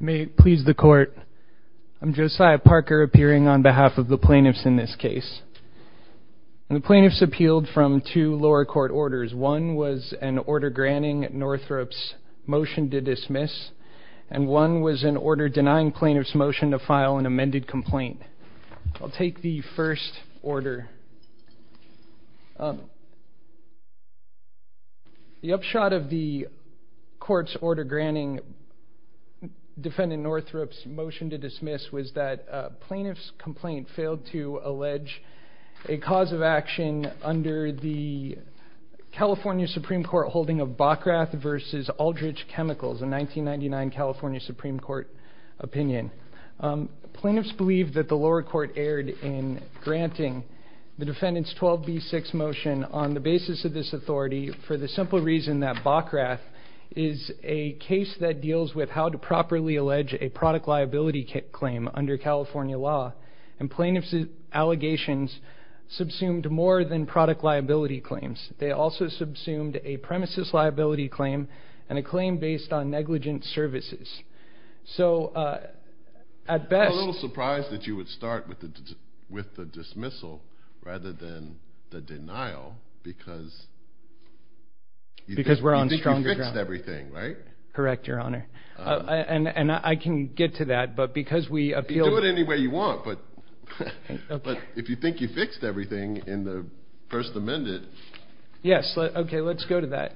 May it please the court. I'm Josiah Parker appearing on behalf of the plaintiffs in this case. The plaintiffs appealed from two lower court orders. One was an order granting Northrop's motion to dismiss, and one was an order denying plaintiffs' motion to file an amended complaint. I'll take the first order. The upshot of the court's order granting defendant Northrop's motion to dismiss was that a plaintiff's complaint failed to allege a cause of action under the California Supreme Court holding of Bockrath v. Aldridge Chemicals, a 1999 California Supreme Court opinion. Plaintiffs believed that the lower court erred in granting the defendant's 12B6 motion on the basis of this authority for the simple reason that Bockrath is a case that deals with how to properly allege a product liability claim under California law, and plaintiffs' allegations subsumed more than product liability claims. They also subsumed a premises liability claim and a claim based on negligent services. I'm a little surprised that you would start with the dismissal rather than the denial because you think you fixed everything, right? Correct, Your Honor, and I can get to that. You can do it any way you want, but if you think you fixed everything in the First Amendment... Yes, okay, let's go to that.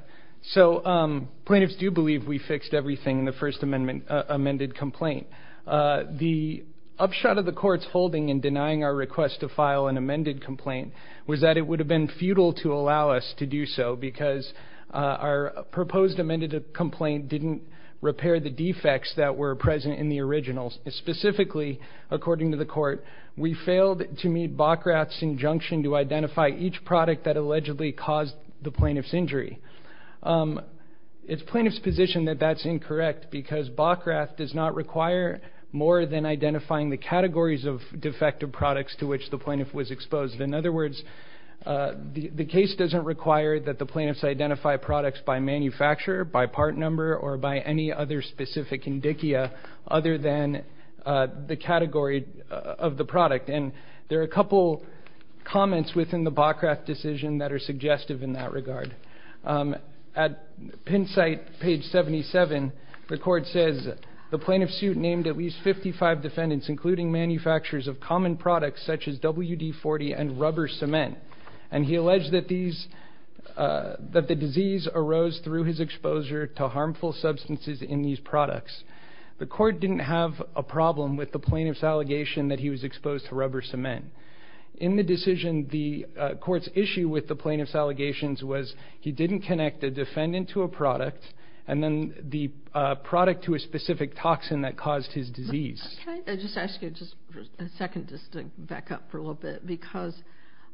So plaintiffs do believe we fixed everything in the First Amendment amended complaint. The upshot of the court's holding in denying our request to file an amended complaint was that it would have been futile to allow us to do so because our proposed amended complaint didn't repair the defects that were present in the originals. Specifically, according to the court, we failed to meet Bockrath's injunction to identify each product that allegedly caused the plaintiff's injury. It's plaintiff's position that that's incorrect because Bockrath does not require more than identifying the categories of defective products to which the plaintiff was exposed. In other words, the case doesn't require that the plaintiffs identify products by manufacturer, by part number, or by any other specific indicia other than the category of the product. And there are a couple comments within the Bockrath decision that are suggestive in that regard. At pin site page 77, the court says, The plaintiff's suit named at least 55 defendants, including manufacturers of common products such as WD-40 and rubber cement, and he alleged that the disease arose through his exposure to harmful substances in these products. The court didn't have a problem with the plaintiff's allegation that he was exposed to rubber cement. In the decision, the court's issue with the plaintiff's allegations was he didn't connect the defendant to a product and then the product to a specific toxin that caused his disease. Can I just ask you just a second just to back up for a little bit? Because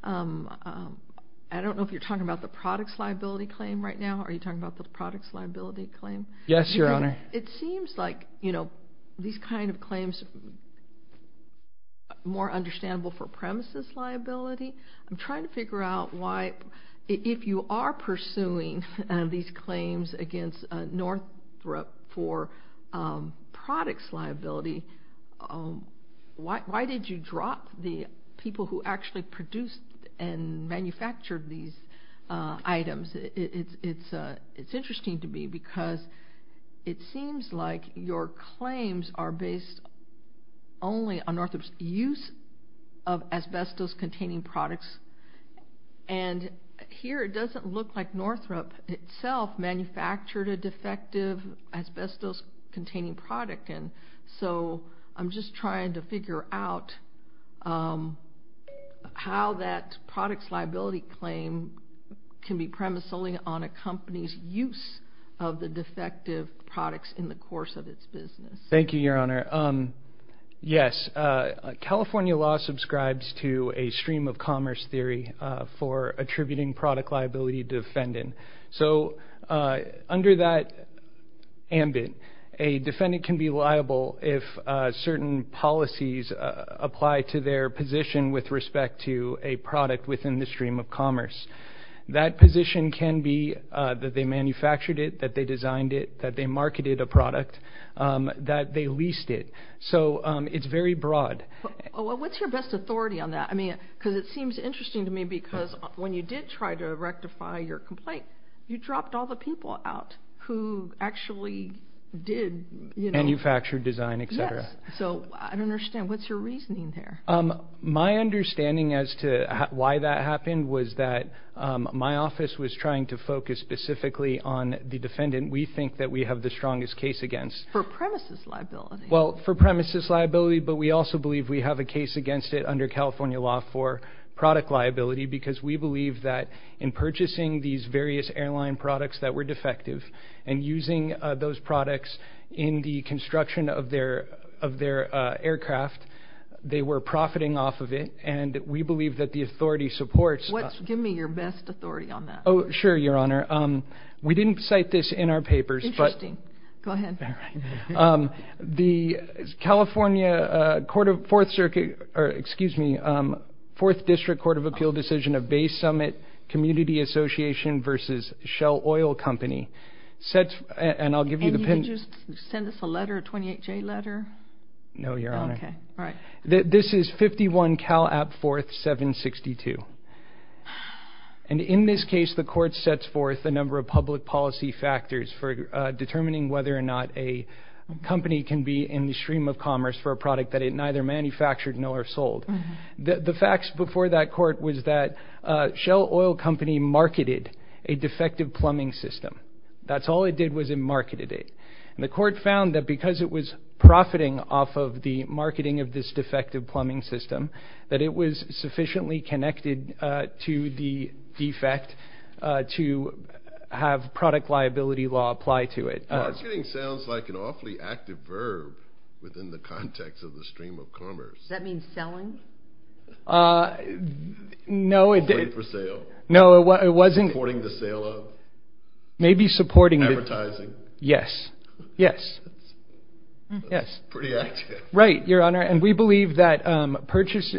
I don't know if you're talking about the products liability claim right now. Are you talking about the products liability claim? Yes, Your Honor. It seems like, you know, these kind of claims are more understandable for premises liability. I'm trying to figure out why, if you are pursuing these claims against Northrop for products liability, why did you drop the people who actually produced and manufactured these items? It's interesting to me because it seems like your claims are based only on Northrop's use of asbestos-containing products, and here it doesn't look like Northrop itself manufactured a defective asbestos-containing product. So I'm just trying to figure out how that products liability claim can be premised only on a company's use of the defective products in the course of its business. Thank you, Your Honor. Yes, California law subscribes to a stream-of-commerce theory for attributing product liability to a defendant. So under that ambit, a defendant can be liable if certain policies apply to their position with respect to a product within the stream of commerce. That position can be that they manufactured it, that they designed it, that they marketed a product, that they leased it. So it's very broad. What's your best authority on that? Because it seems interesting to me because when you did try to rectify your complaint, you dropped all the people out who actually did... Manufactured, designed, etc. Yes. So I don't understand. What's your reasoning there? My understanding as to why that happened was that my office was trying to focus specifically on the defendant we think that we have the strongest case against. For premises liability. Well, for premises liability, but we also believe we have a case against it under California law for product liability because we believe that in purchasing these various airline products that were defective and using those products in the construction of their aircraft, they were profiting off of it. And we believe that the authority supports... Give me your best authority on that. Oh, sure, Your Honor. We didn't cite this in our papers, but... Interesting. Go ahead. The California Court of Fourth Circuit, or excuse me, Fourth District Court of Appeal decision of Bay Summit Community Association versus Shell Oil Company sets... And you can just send us a letter, a 28-J letter? No, Your Honor. Okay. All right. This is 51 Cal App 4th 762. And in this case, the court sets forth a number of public policy factors for determining whether or not a company can be in the stream of commerce for a product that it neither manufactured nor sold. The facts before that court was that Shell Oil Company marketed a defective plumbing system. That's all it did was it marketed it. And the court found that because it was profiting off of the marketing of this defective plumbing system, that it was sufficiently connected to the defect to have product liability law apply to it. Marketing sounds like an awfully active verb within the context of the stream of commerce. Does that mean selling? No, it didn't. For sale? No, it wasn't. Supporting the sale of? Maybe supporting the... Advertising? Yes. Yes. Yes. Pretty active. Right, Your Honor. And we believe that purchase...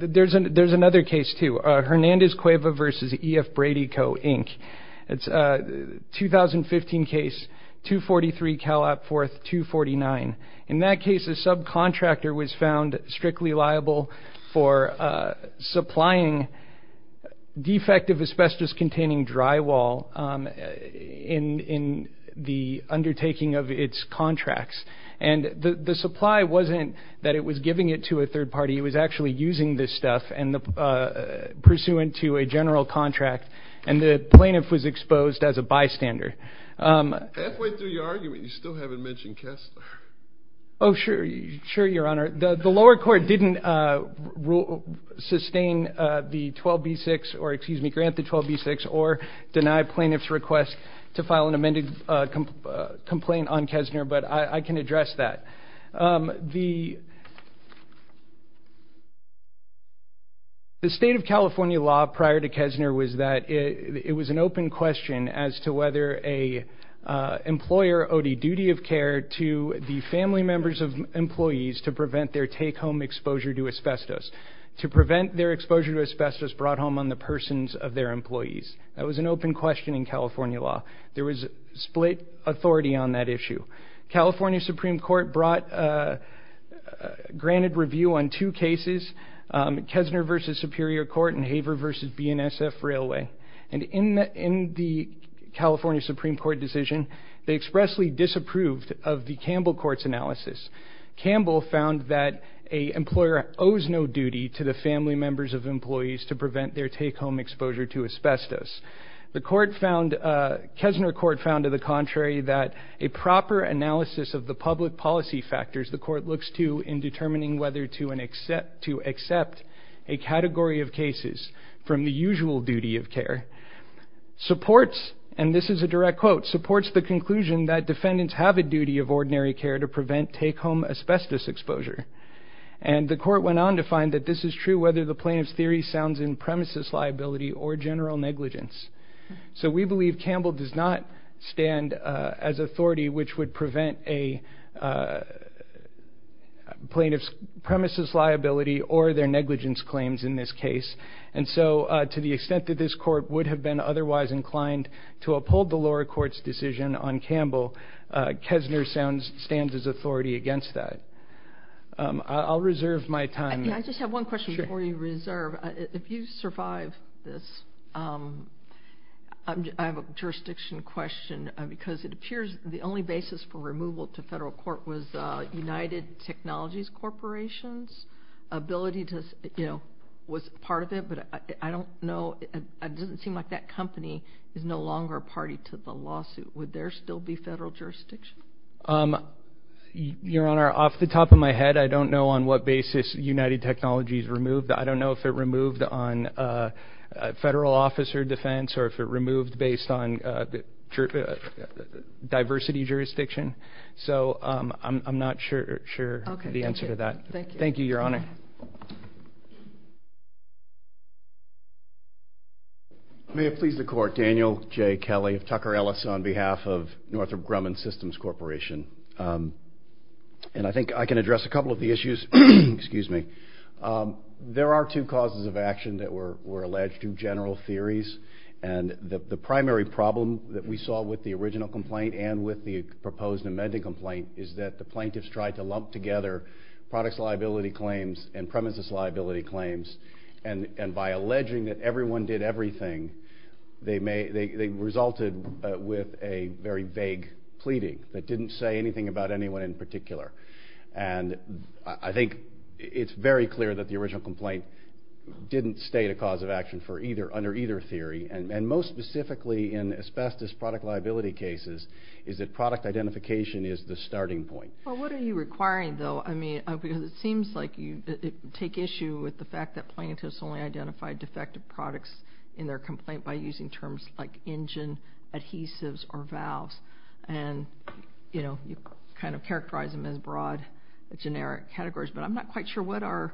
There's another case, too, Hernandez Cueva v. E.F. Brady Co., Inc. It's a 2015 case, 243 Cal App 4th 249. In that case, a subcontractor was found strictly liable for supplying defective asbestos-containing drywall in the undertaking of its contracts. And the supply wasn't that it was giving it to a third party. It was actually using this stuff pursuant to a general contract, and the plaintiff was exposed as a bystander. Halfway through your argument, you still haven't mentioned Kessler. Oh, sure, Your Honor. The lower court didn't sustain the 12b-6, or excuse me, grant the 12b-6, or deny plaintiff's request to file an amended complaint on Kessler, but I can address that. The state of California law prior to Kessler was that it was an open question as to whether an employer owed a duty of care to the family members of employees to prevent their take-home exposure to asbestos. To prevent their exposure to asbestos brought home on the persons of their employees. That was an open question in California law. There was split authority on that issue. California Supreme Court brought granted review on two cases, Kessler v. Superior Court and Haver v. BNSF Railway. And in the California Supreme Court decision, they expressly disapproved of the Campbell Court's analysis. Campbell found that an employer owes no duty to the family members of employees to prevent their take-home exposure to asbestos. The court found, Kessler court found to the contrary, that a proper analysis of the public policy factors the court looks to in determining whether to accept a category of cases from the usual duty of care supports, and this is a direct quote, supports the conclusion that defendants have a duty of ordinary care to prevent take-home asbestos exposure. And the court went on to find that this is true whether the plaintiff's theory sounds in premises liability or general negligence. So we believe Campbell does not stand as authority which would prevent a plaintiff's premises liability or their negligence claims in this case. And so to the extent that this court would have been otherwise inclined to uphold the lower court's decision on Campbell, Kessler stands as authority against that. I'll reserve my time. I just have one question before you reserve. If you survive this, I have a jurisdiction question because it appears the only basis for removal to federal court was United Technologies Corporation's ability to, you know, was part of it. But I don't know, it doesn't seem like that company is no longer a party to the lawsuit. Would there still be federal jurisdiction? Your Honor, off the top of my head, I don't know on what basis United Technologies removed. I don't know if it removed on federal officer defense or if it removed based on diversity jurisdiction. So I'm not sure the answer to that. Thank you, Your Honor. May it please the court. Daniel J. Kelly of Tucker Ellis on behalf of Northrop Grumman Systems Corporation. And I think I can address a couple of the issues. There are two causes of action that were alleged, two general theories. And the primary problem that we saw with the original complaint and with the proposed amended complaint is that the plaintiffs tried to lump together products liability claims and premises liability claims. And by alleging that everyone did everything, they resulted with a very vague pleading that didn't say anything about anyone in particular. And I think it's very clear that the original complaint didn't state a cause of action under either theory. And most specifically in asbestos product liability cases is that product identification is the starting point. Well, what are you requiring, though? I mean, because it seems like you take issue with the fact that plaintiffs only identified defective products in their complaint by using terms like engine, adhesives, or valves. And, you know, you kind of characterize them as broad generic categories. But I'm not quite sure what our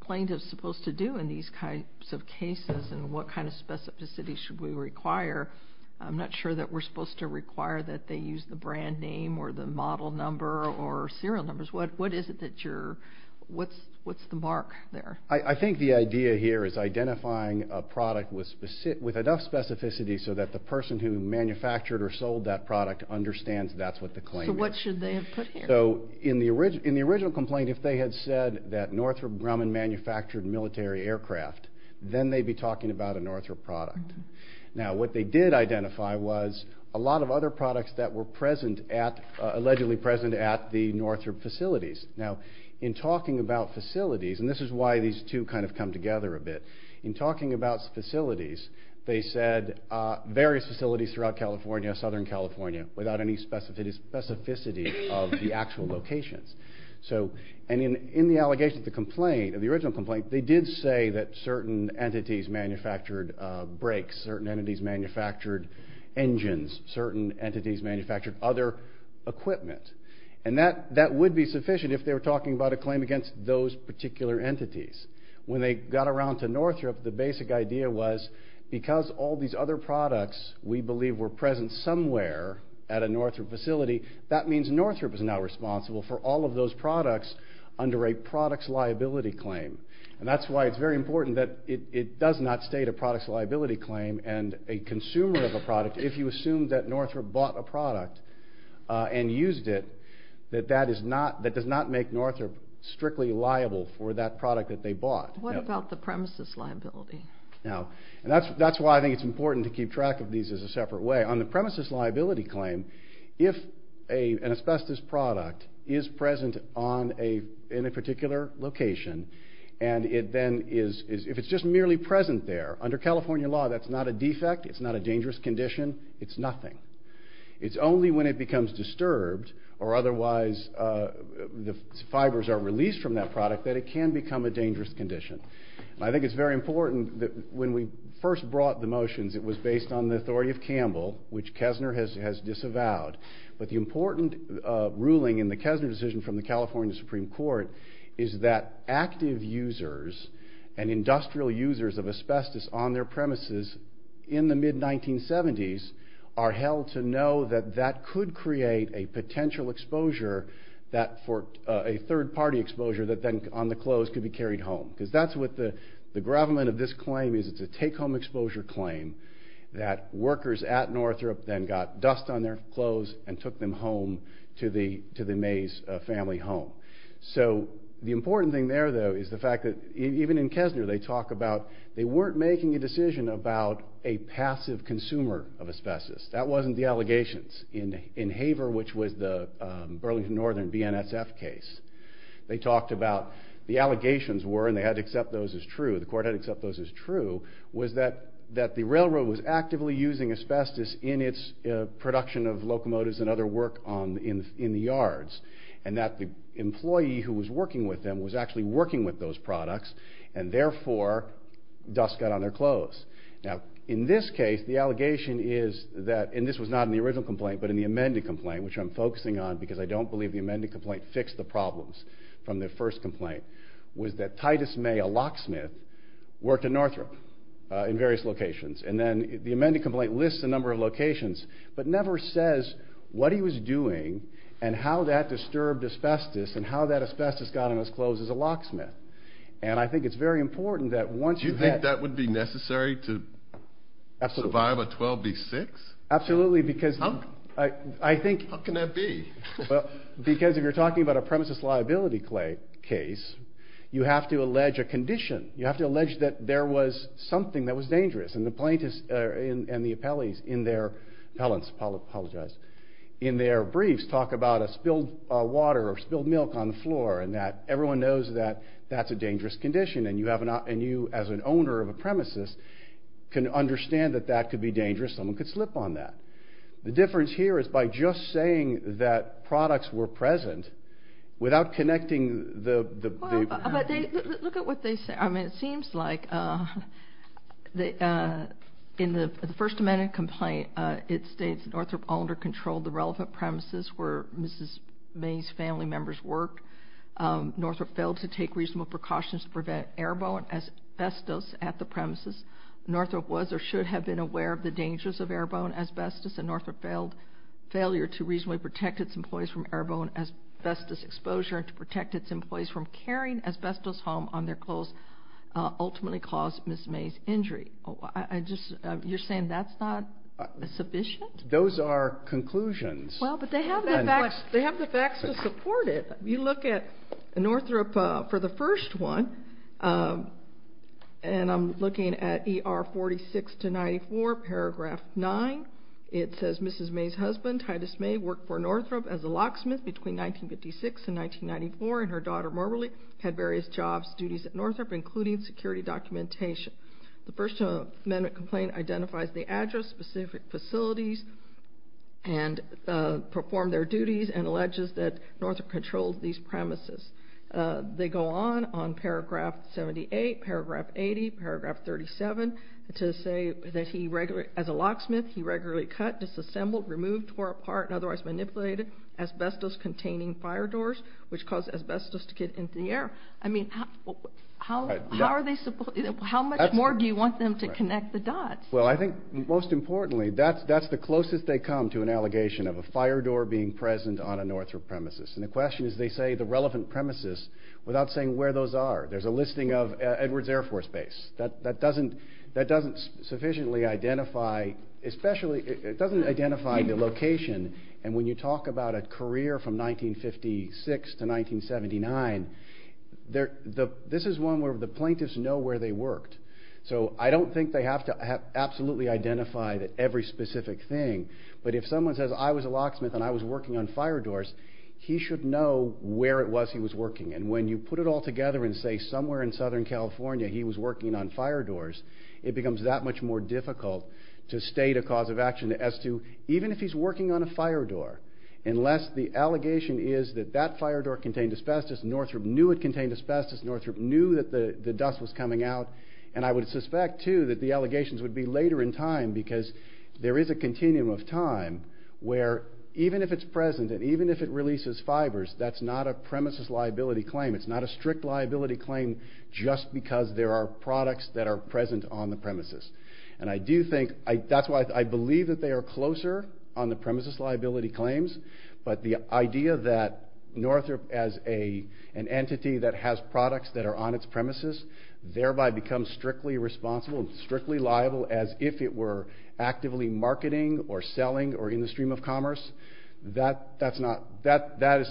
plaintiffs are supposed to do in these kinds of cases and what kind of specificity should we require. I'm not sure that we're supposed to require that they use the brand name or the model number or serial numbers. What is it that you're – what's the mark there? I think the idea here is identifying a product with enough specificity so that the person who manufactured or sold that product understands that's what the claim is. So what should they have put here? So in the original complaint, if they had said that Northrop Grumman manufactured military aircraft, then they'd be talking about a Northrop product. Now, what they did identify was a lot of other products that were present at – allegedly present at the Northrop facilities. Now, in talking about facilities – and this is why these two kind of come together a bit – in talking about facilities, they said various facilities throughout California, southern California, without any specificity of the actual locations. So – and in the allegation of the complaint, of the original complaint, they did say that certain entities manufactured brakes, certain entities manufactured engines, certain entities manufactured other equipment. And that would be sufficient if they were talking about a claim against those particular entities. When they got around to Northrop, the basic idea was because all these other products we believe were present somewhere at a Northrop facility, that means Northrop is now responsible for all of those products under a products liability claim. And that's why it's very important that it does not state a products liability claim and a consumer of a product, if you assume that Northrop bought a product and used it, that that is not – that does not make Northrop strictly liable for that product that they bought. What about the premises liability? Now – and that's why I think it's important to keep track of these as a separate way. On the premises liability claim, if an asbestos product is present on a – in a particular location, and it then is – if it's just merely present there, under California law, that's not a defect, it's not a dangerous condition, it's nothing. It's only when it becomes disturbed or otherwise the fibers are released from that product that it can become a dangerous condition. And I think it's very important that when we first brought the motions, it was based on the authority of Campbell, which Kessner has disavowed. But the important ruling in the Kessner decision from the California Supreme Court is that active users and industrial users of asbestos on their premises in the mid-1970s are held to know that that could create a potential exposure that – a third-party exposure that then on the close could be carried home. Because that's what the – the gravamen of this claim is it's a take-home exposure claim that workers at Northrop then got dust on their clothes and took them home to the Mays family home. So the important thing there, though, is the fact that even in Kessner they talk about they weren't making a decision about a passive consumer of asbestos. That wasn't the allegations. In Haver, which was the Burlington Northern BNSF case, they talked about the allegations were, and they had to accept those as true, the court had to accept those as true, was that the railroad was actively using asbestos in its production of locomotives and other work in the yards. And that the employee who was working with them was actually working with those products, and therefore dust got on their clothes. Now, in this case, the allegation is that – and this was not in the original complaint, but in the amended complaint, which I'm focusing on because I don't believe the amended complaint fixed the problems from the first complaint – was that Titus May, a locksmith, worked at Northrop in various locations. And then the amended complaint lists a number of locations, but never says what he was doing and how that disturbed asbestos and how that asbestos got on his clothes as a locksmith. And I think it's very important that once you get – You think that would be necessary to survive a 12B6? Absolutely, because I think – How can that be? Because if you're talking about a premises liability case, you have to allege a condition. You have to allege that there was something that was dangerous. And the plaintiffs and the appellants in their briefs talk about a spilled water or spilled milk on the floor and that everyone knows that that's a dangerous condition. And you, as an owner of a premises, can understand that that could be dangerous. Someone could slip on that. The difference here is by just saying that products were present, without connecting the – Well, but they – look at what they say. I mean, it seems like in the first amended complaint, it states Northrop all under controlled the relevant premises where Mrs. May's family members worked. Northrop failed to take reasonable precautions to prevent air bone asbestos at the premises. Northrop was or should have been aware of the dangers of air bone asbestos, and Northrop failed – failure to reasonably protect its employees from air bone asbestos exposure and to protect its employees from carrying asbestos home on their clothes ultimately caused Mrs. May's injury. I just – you're saying that's not sufficient? Those are conclusions. Well, but they have the facts. They have the facts to support it. You look at Northrop for the first one, and I'm looking at ER 46-94, paragraph 9. It says, Mrs. May's husband, Titus May, worked for Northrop as a locksmith between 1956 and 1994, and her daughter Marjorie had various jobs, duties at Northrop, including security documentation. The first amendment complaint identifies the address, specific facilities, and performed their duties and alleges that Northrop controlled these premises. They go on, on paragraph 78, paragraph 80, paragraph 37, to say that he, as a locksmith, he regularly cut, disassembled, removed, tore apart, and otherwise manipulated asbestos-containing fire doors, which caused asbestos to get into the air. I mean, how much more do you want them to connect the dots? Well, I think, most importantly, that's the closest they come to an allegation of a fire door being present on a Northrop premises. And the question is, they say the relevant premises without saying where those are. There's a listing of Edwards Air Force Base. That doesn't sufficiently identify, especially, it doesn't identify the location, and when you talk about a career from 1956 to 1979, this is one where the plaintiffs know where they worked. So, I don't think they have to absolutely identify every specific thing, but if someone says, I was a locksmith and I was working on fire doors, he should know where it was he was working. And when you put it all together and say, somewhere in Southern California, he was working on fire doors, it becomes that much more difficult to state a cause of action as to, even if he's working on a fire door, unless the allegation is that that fire door contained asbestos, Northrop knew it contained asbestos, Northrop knew that the dust was coming out, and I would suspect, too, that the allegations would be later in time, because there is a continuum of time where, even if it's present and even if it releases fibers, that's not a premises liability claim. It's not a strict liability claim just because there are products that are present on the premises. And I do think, that's why I believe that they are closer on the premises liability claims, but the idea that Northrop, as an entity that has products that are on its premises, thereby becomes strictly responsible and strictly liable as if it were actively marketing or selling or in the stream of commerce, that is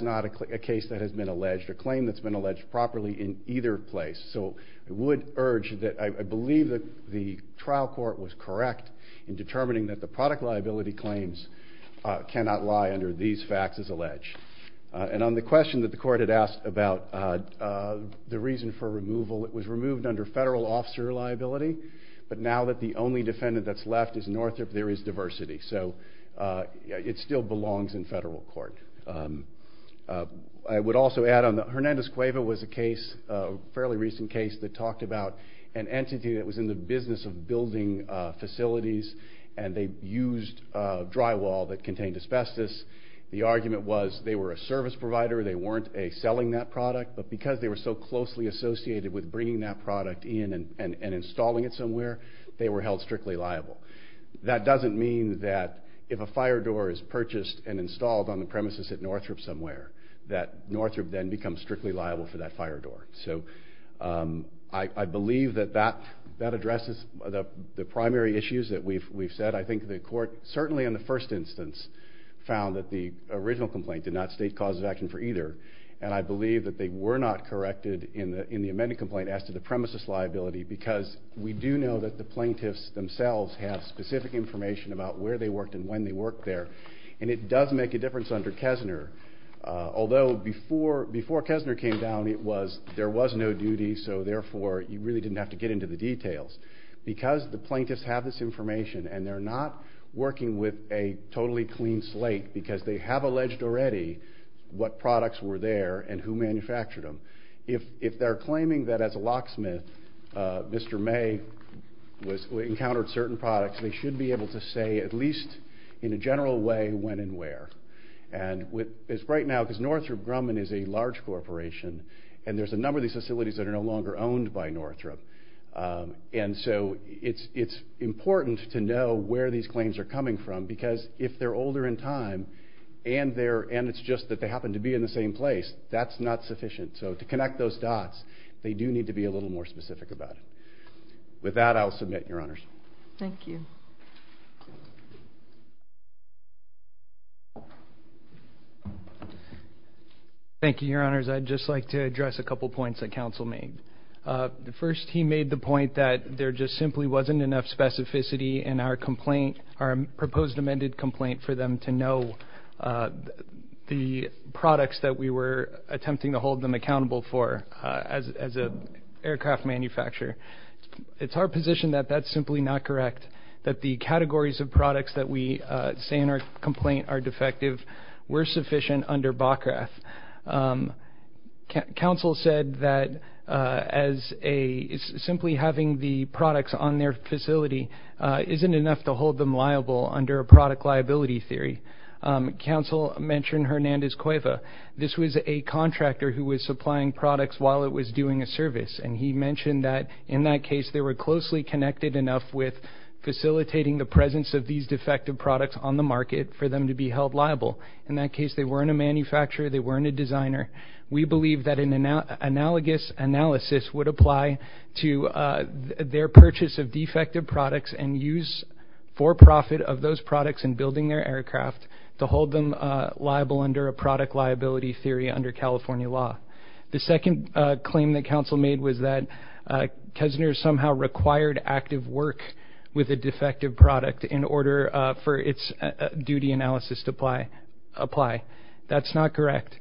not a case that has been alleged, a claim that's been alleged properly in either place. So I would urge, I believe that the trial court was correct in determining that the product liability claims cannot lie under these facts as alleged. And on the question that the court had asked about the reason for removal, it was removed under federal officer liability, but now that the only defendant that's left is Northrop, there is diversity. So it still belongs in federal court. I would also add on, Hernandez Cueva was a case, a fairly recent case, that talked about an entity that was in the business of building facilities, and they used drywall that contained asbestos. The argument was they were a service provider, they weren't selling that product, but because they were so closely associated with bringing that product in and installing it somewhere, they were held strictly liable. That doesn't mean that if a fire door is purchased and installed on the premises at Northrop somewhere, that Northrop then becomes strictly liable for that fire door. So I believe that that addresses the primary issues that we've said. I think the court, certainly in the first instance, found that the original complaint did not state causes of action for either, and I believe that they were not corrected in the amended complaint as to the premises liability because we do know that the plaintiffs themselves have specific information about where they worked and when they worked there, and it does make a difference under Kessner. Although before Kessner came down, there was no duty, so therefore you really didn't have to get into the details. Because the plaintiffs have this information, and they're not working with a totally clean slate because they have alleged already what products were there and who manufactured them. If they're claiming that as a locksmith, Mr. May encountered certain products, they should be able to say at least in a general way when and where. And right now, because Northrop Grumman is a large corporation, and there's a number of these facilities that are no longer owned by Northrop, and so it's important to know where these claims are coming from because if they're older in time and it's just that they happen to be in the same place, that's not sufficient. So to connect those dots, they do need to be a little more specific about it. With that, I'll submit, Your Honors. Thank you. Thank you, Your Honors. I'd just like to address a couple points that counsel made. First, he made the point that there just simply wasn't enough specificity in our complaint, our proposed amended complaint, for them to know the products that we were attempting to hold them accountable for as an aircraft manufacturer. It's our position that that's simply not correct, that the categories of products that we say in our complaint are defective were sufficient under BOCRATH. Counsel said that simply having the products on their facility isn't enough to hold them liable under a product liability theory. Counsel mentioned Hernandez Cueva. This was a contractor who was supplying products while it was doing a service, and he mentioned that, in that case, they were closely connected enough with facilitating the presence of these defective products on the market for them to be held liable. In that case, they weren't a manufacturer, they weren't a designer. We believe that an analogous analysis would apply to their purchase of defective products and use for profit of those products in building their aircraft to hold them liable under a product liability theory under California law. The second claim that counsel made was that Kessner somehow required active work with a defective product in order for its duty analysis to apply. That's not correct.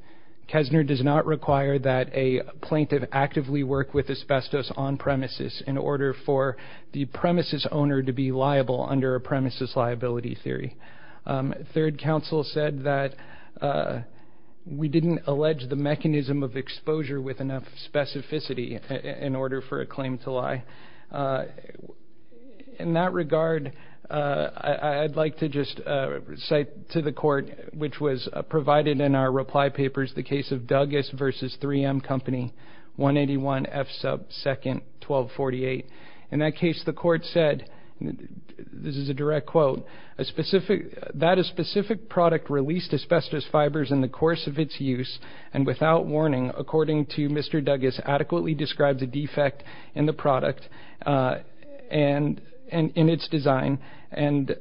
Kessner does not require that a plaintiff actively work with asbestos on premises in order for the premises owner to be liable under a premises liability theory. Third, counsel said that we didn't allege the mechanism of exposure with enough specificity in order for a claim to lie. In that regard, I'd like to just cite to the court, which was provided in our reply papers, the case of Douglas v. 3M Company, 181 F sub 2nd, 1248. In that case, the court said, this is a direct quote, that a specific product released asbestos fibers in the course of its use and without warning, according to Mr. Douglas, adequately describes a defect in the product and in its design and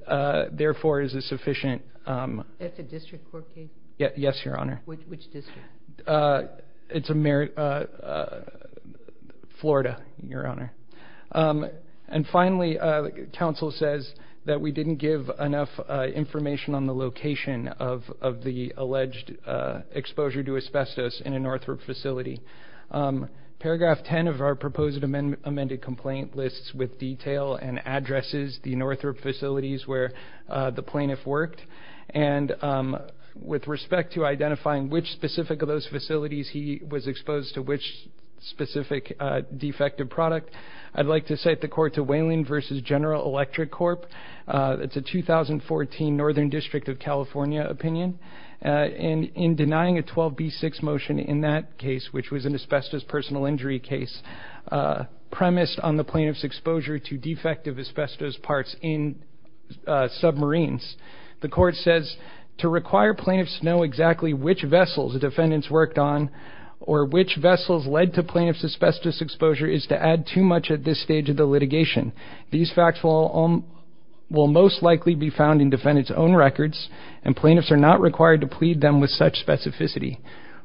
therefore is a sufficient... That's a district court case? Yes, Your Honor. Which district? It's Florida, Your Honor. And finally, counsel says that we didn't give enough information on the location of the alleged exposure to asbestos in a Northrop facility. Paragraph 10 of our proposed amended complaint lists with detail and addresses the Northrop facilities where the plaintiff worked. And with respect to identifying which specific of those facilities he was exposed to, which specific defective product, I'd like to cite the court to Wayland v. General Electric Corp. It's a 2014 Northern District of California opinion. And in denying a 12B6 motion in that case, which was an asbestos personal injury case, premised on the plaintiff's exposure to defective asbestos parts in submarines, the court says, to require plaintiffs to know exactly which vessels the defendants worked on or which vessels led to plaintiff's asbestos exposure is to add too much at this stage of the litigation. These facts will most likely be found in defendants' own records, and plaintiffs are not required to plead them with such specificity.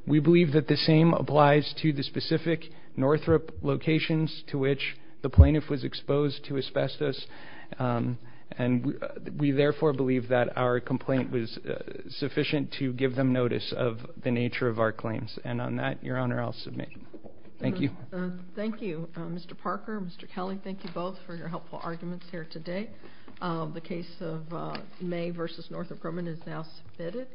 We believe that the same applies to the specific Northrop locations to which the plaintiff was exposed to asbestos, and we therefore believe that our complaint was sufficient to give them notice of the nature of our claims. And on that, Your Honor, I'll submit. Thank you. Thank you. Mr. Parker, Mr. Kelly, thank you both for your helpful arguments here today. The case of May v. Northrop Grumman is now submitted.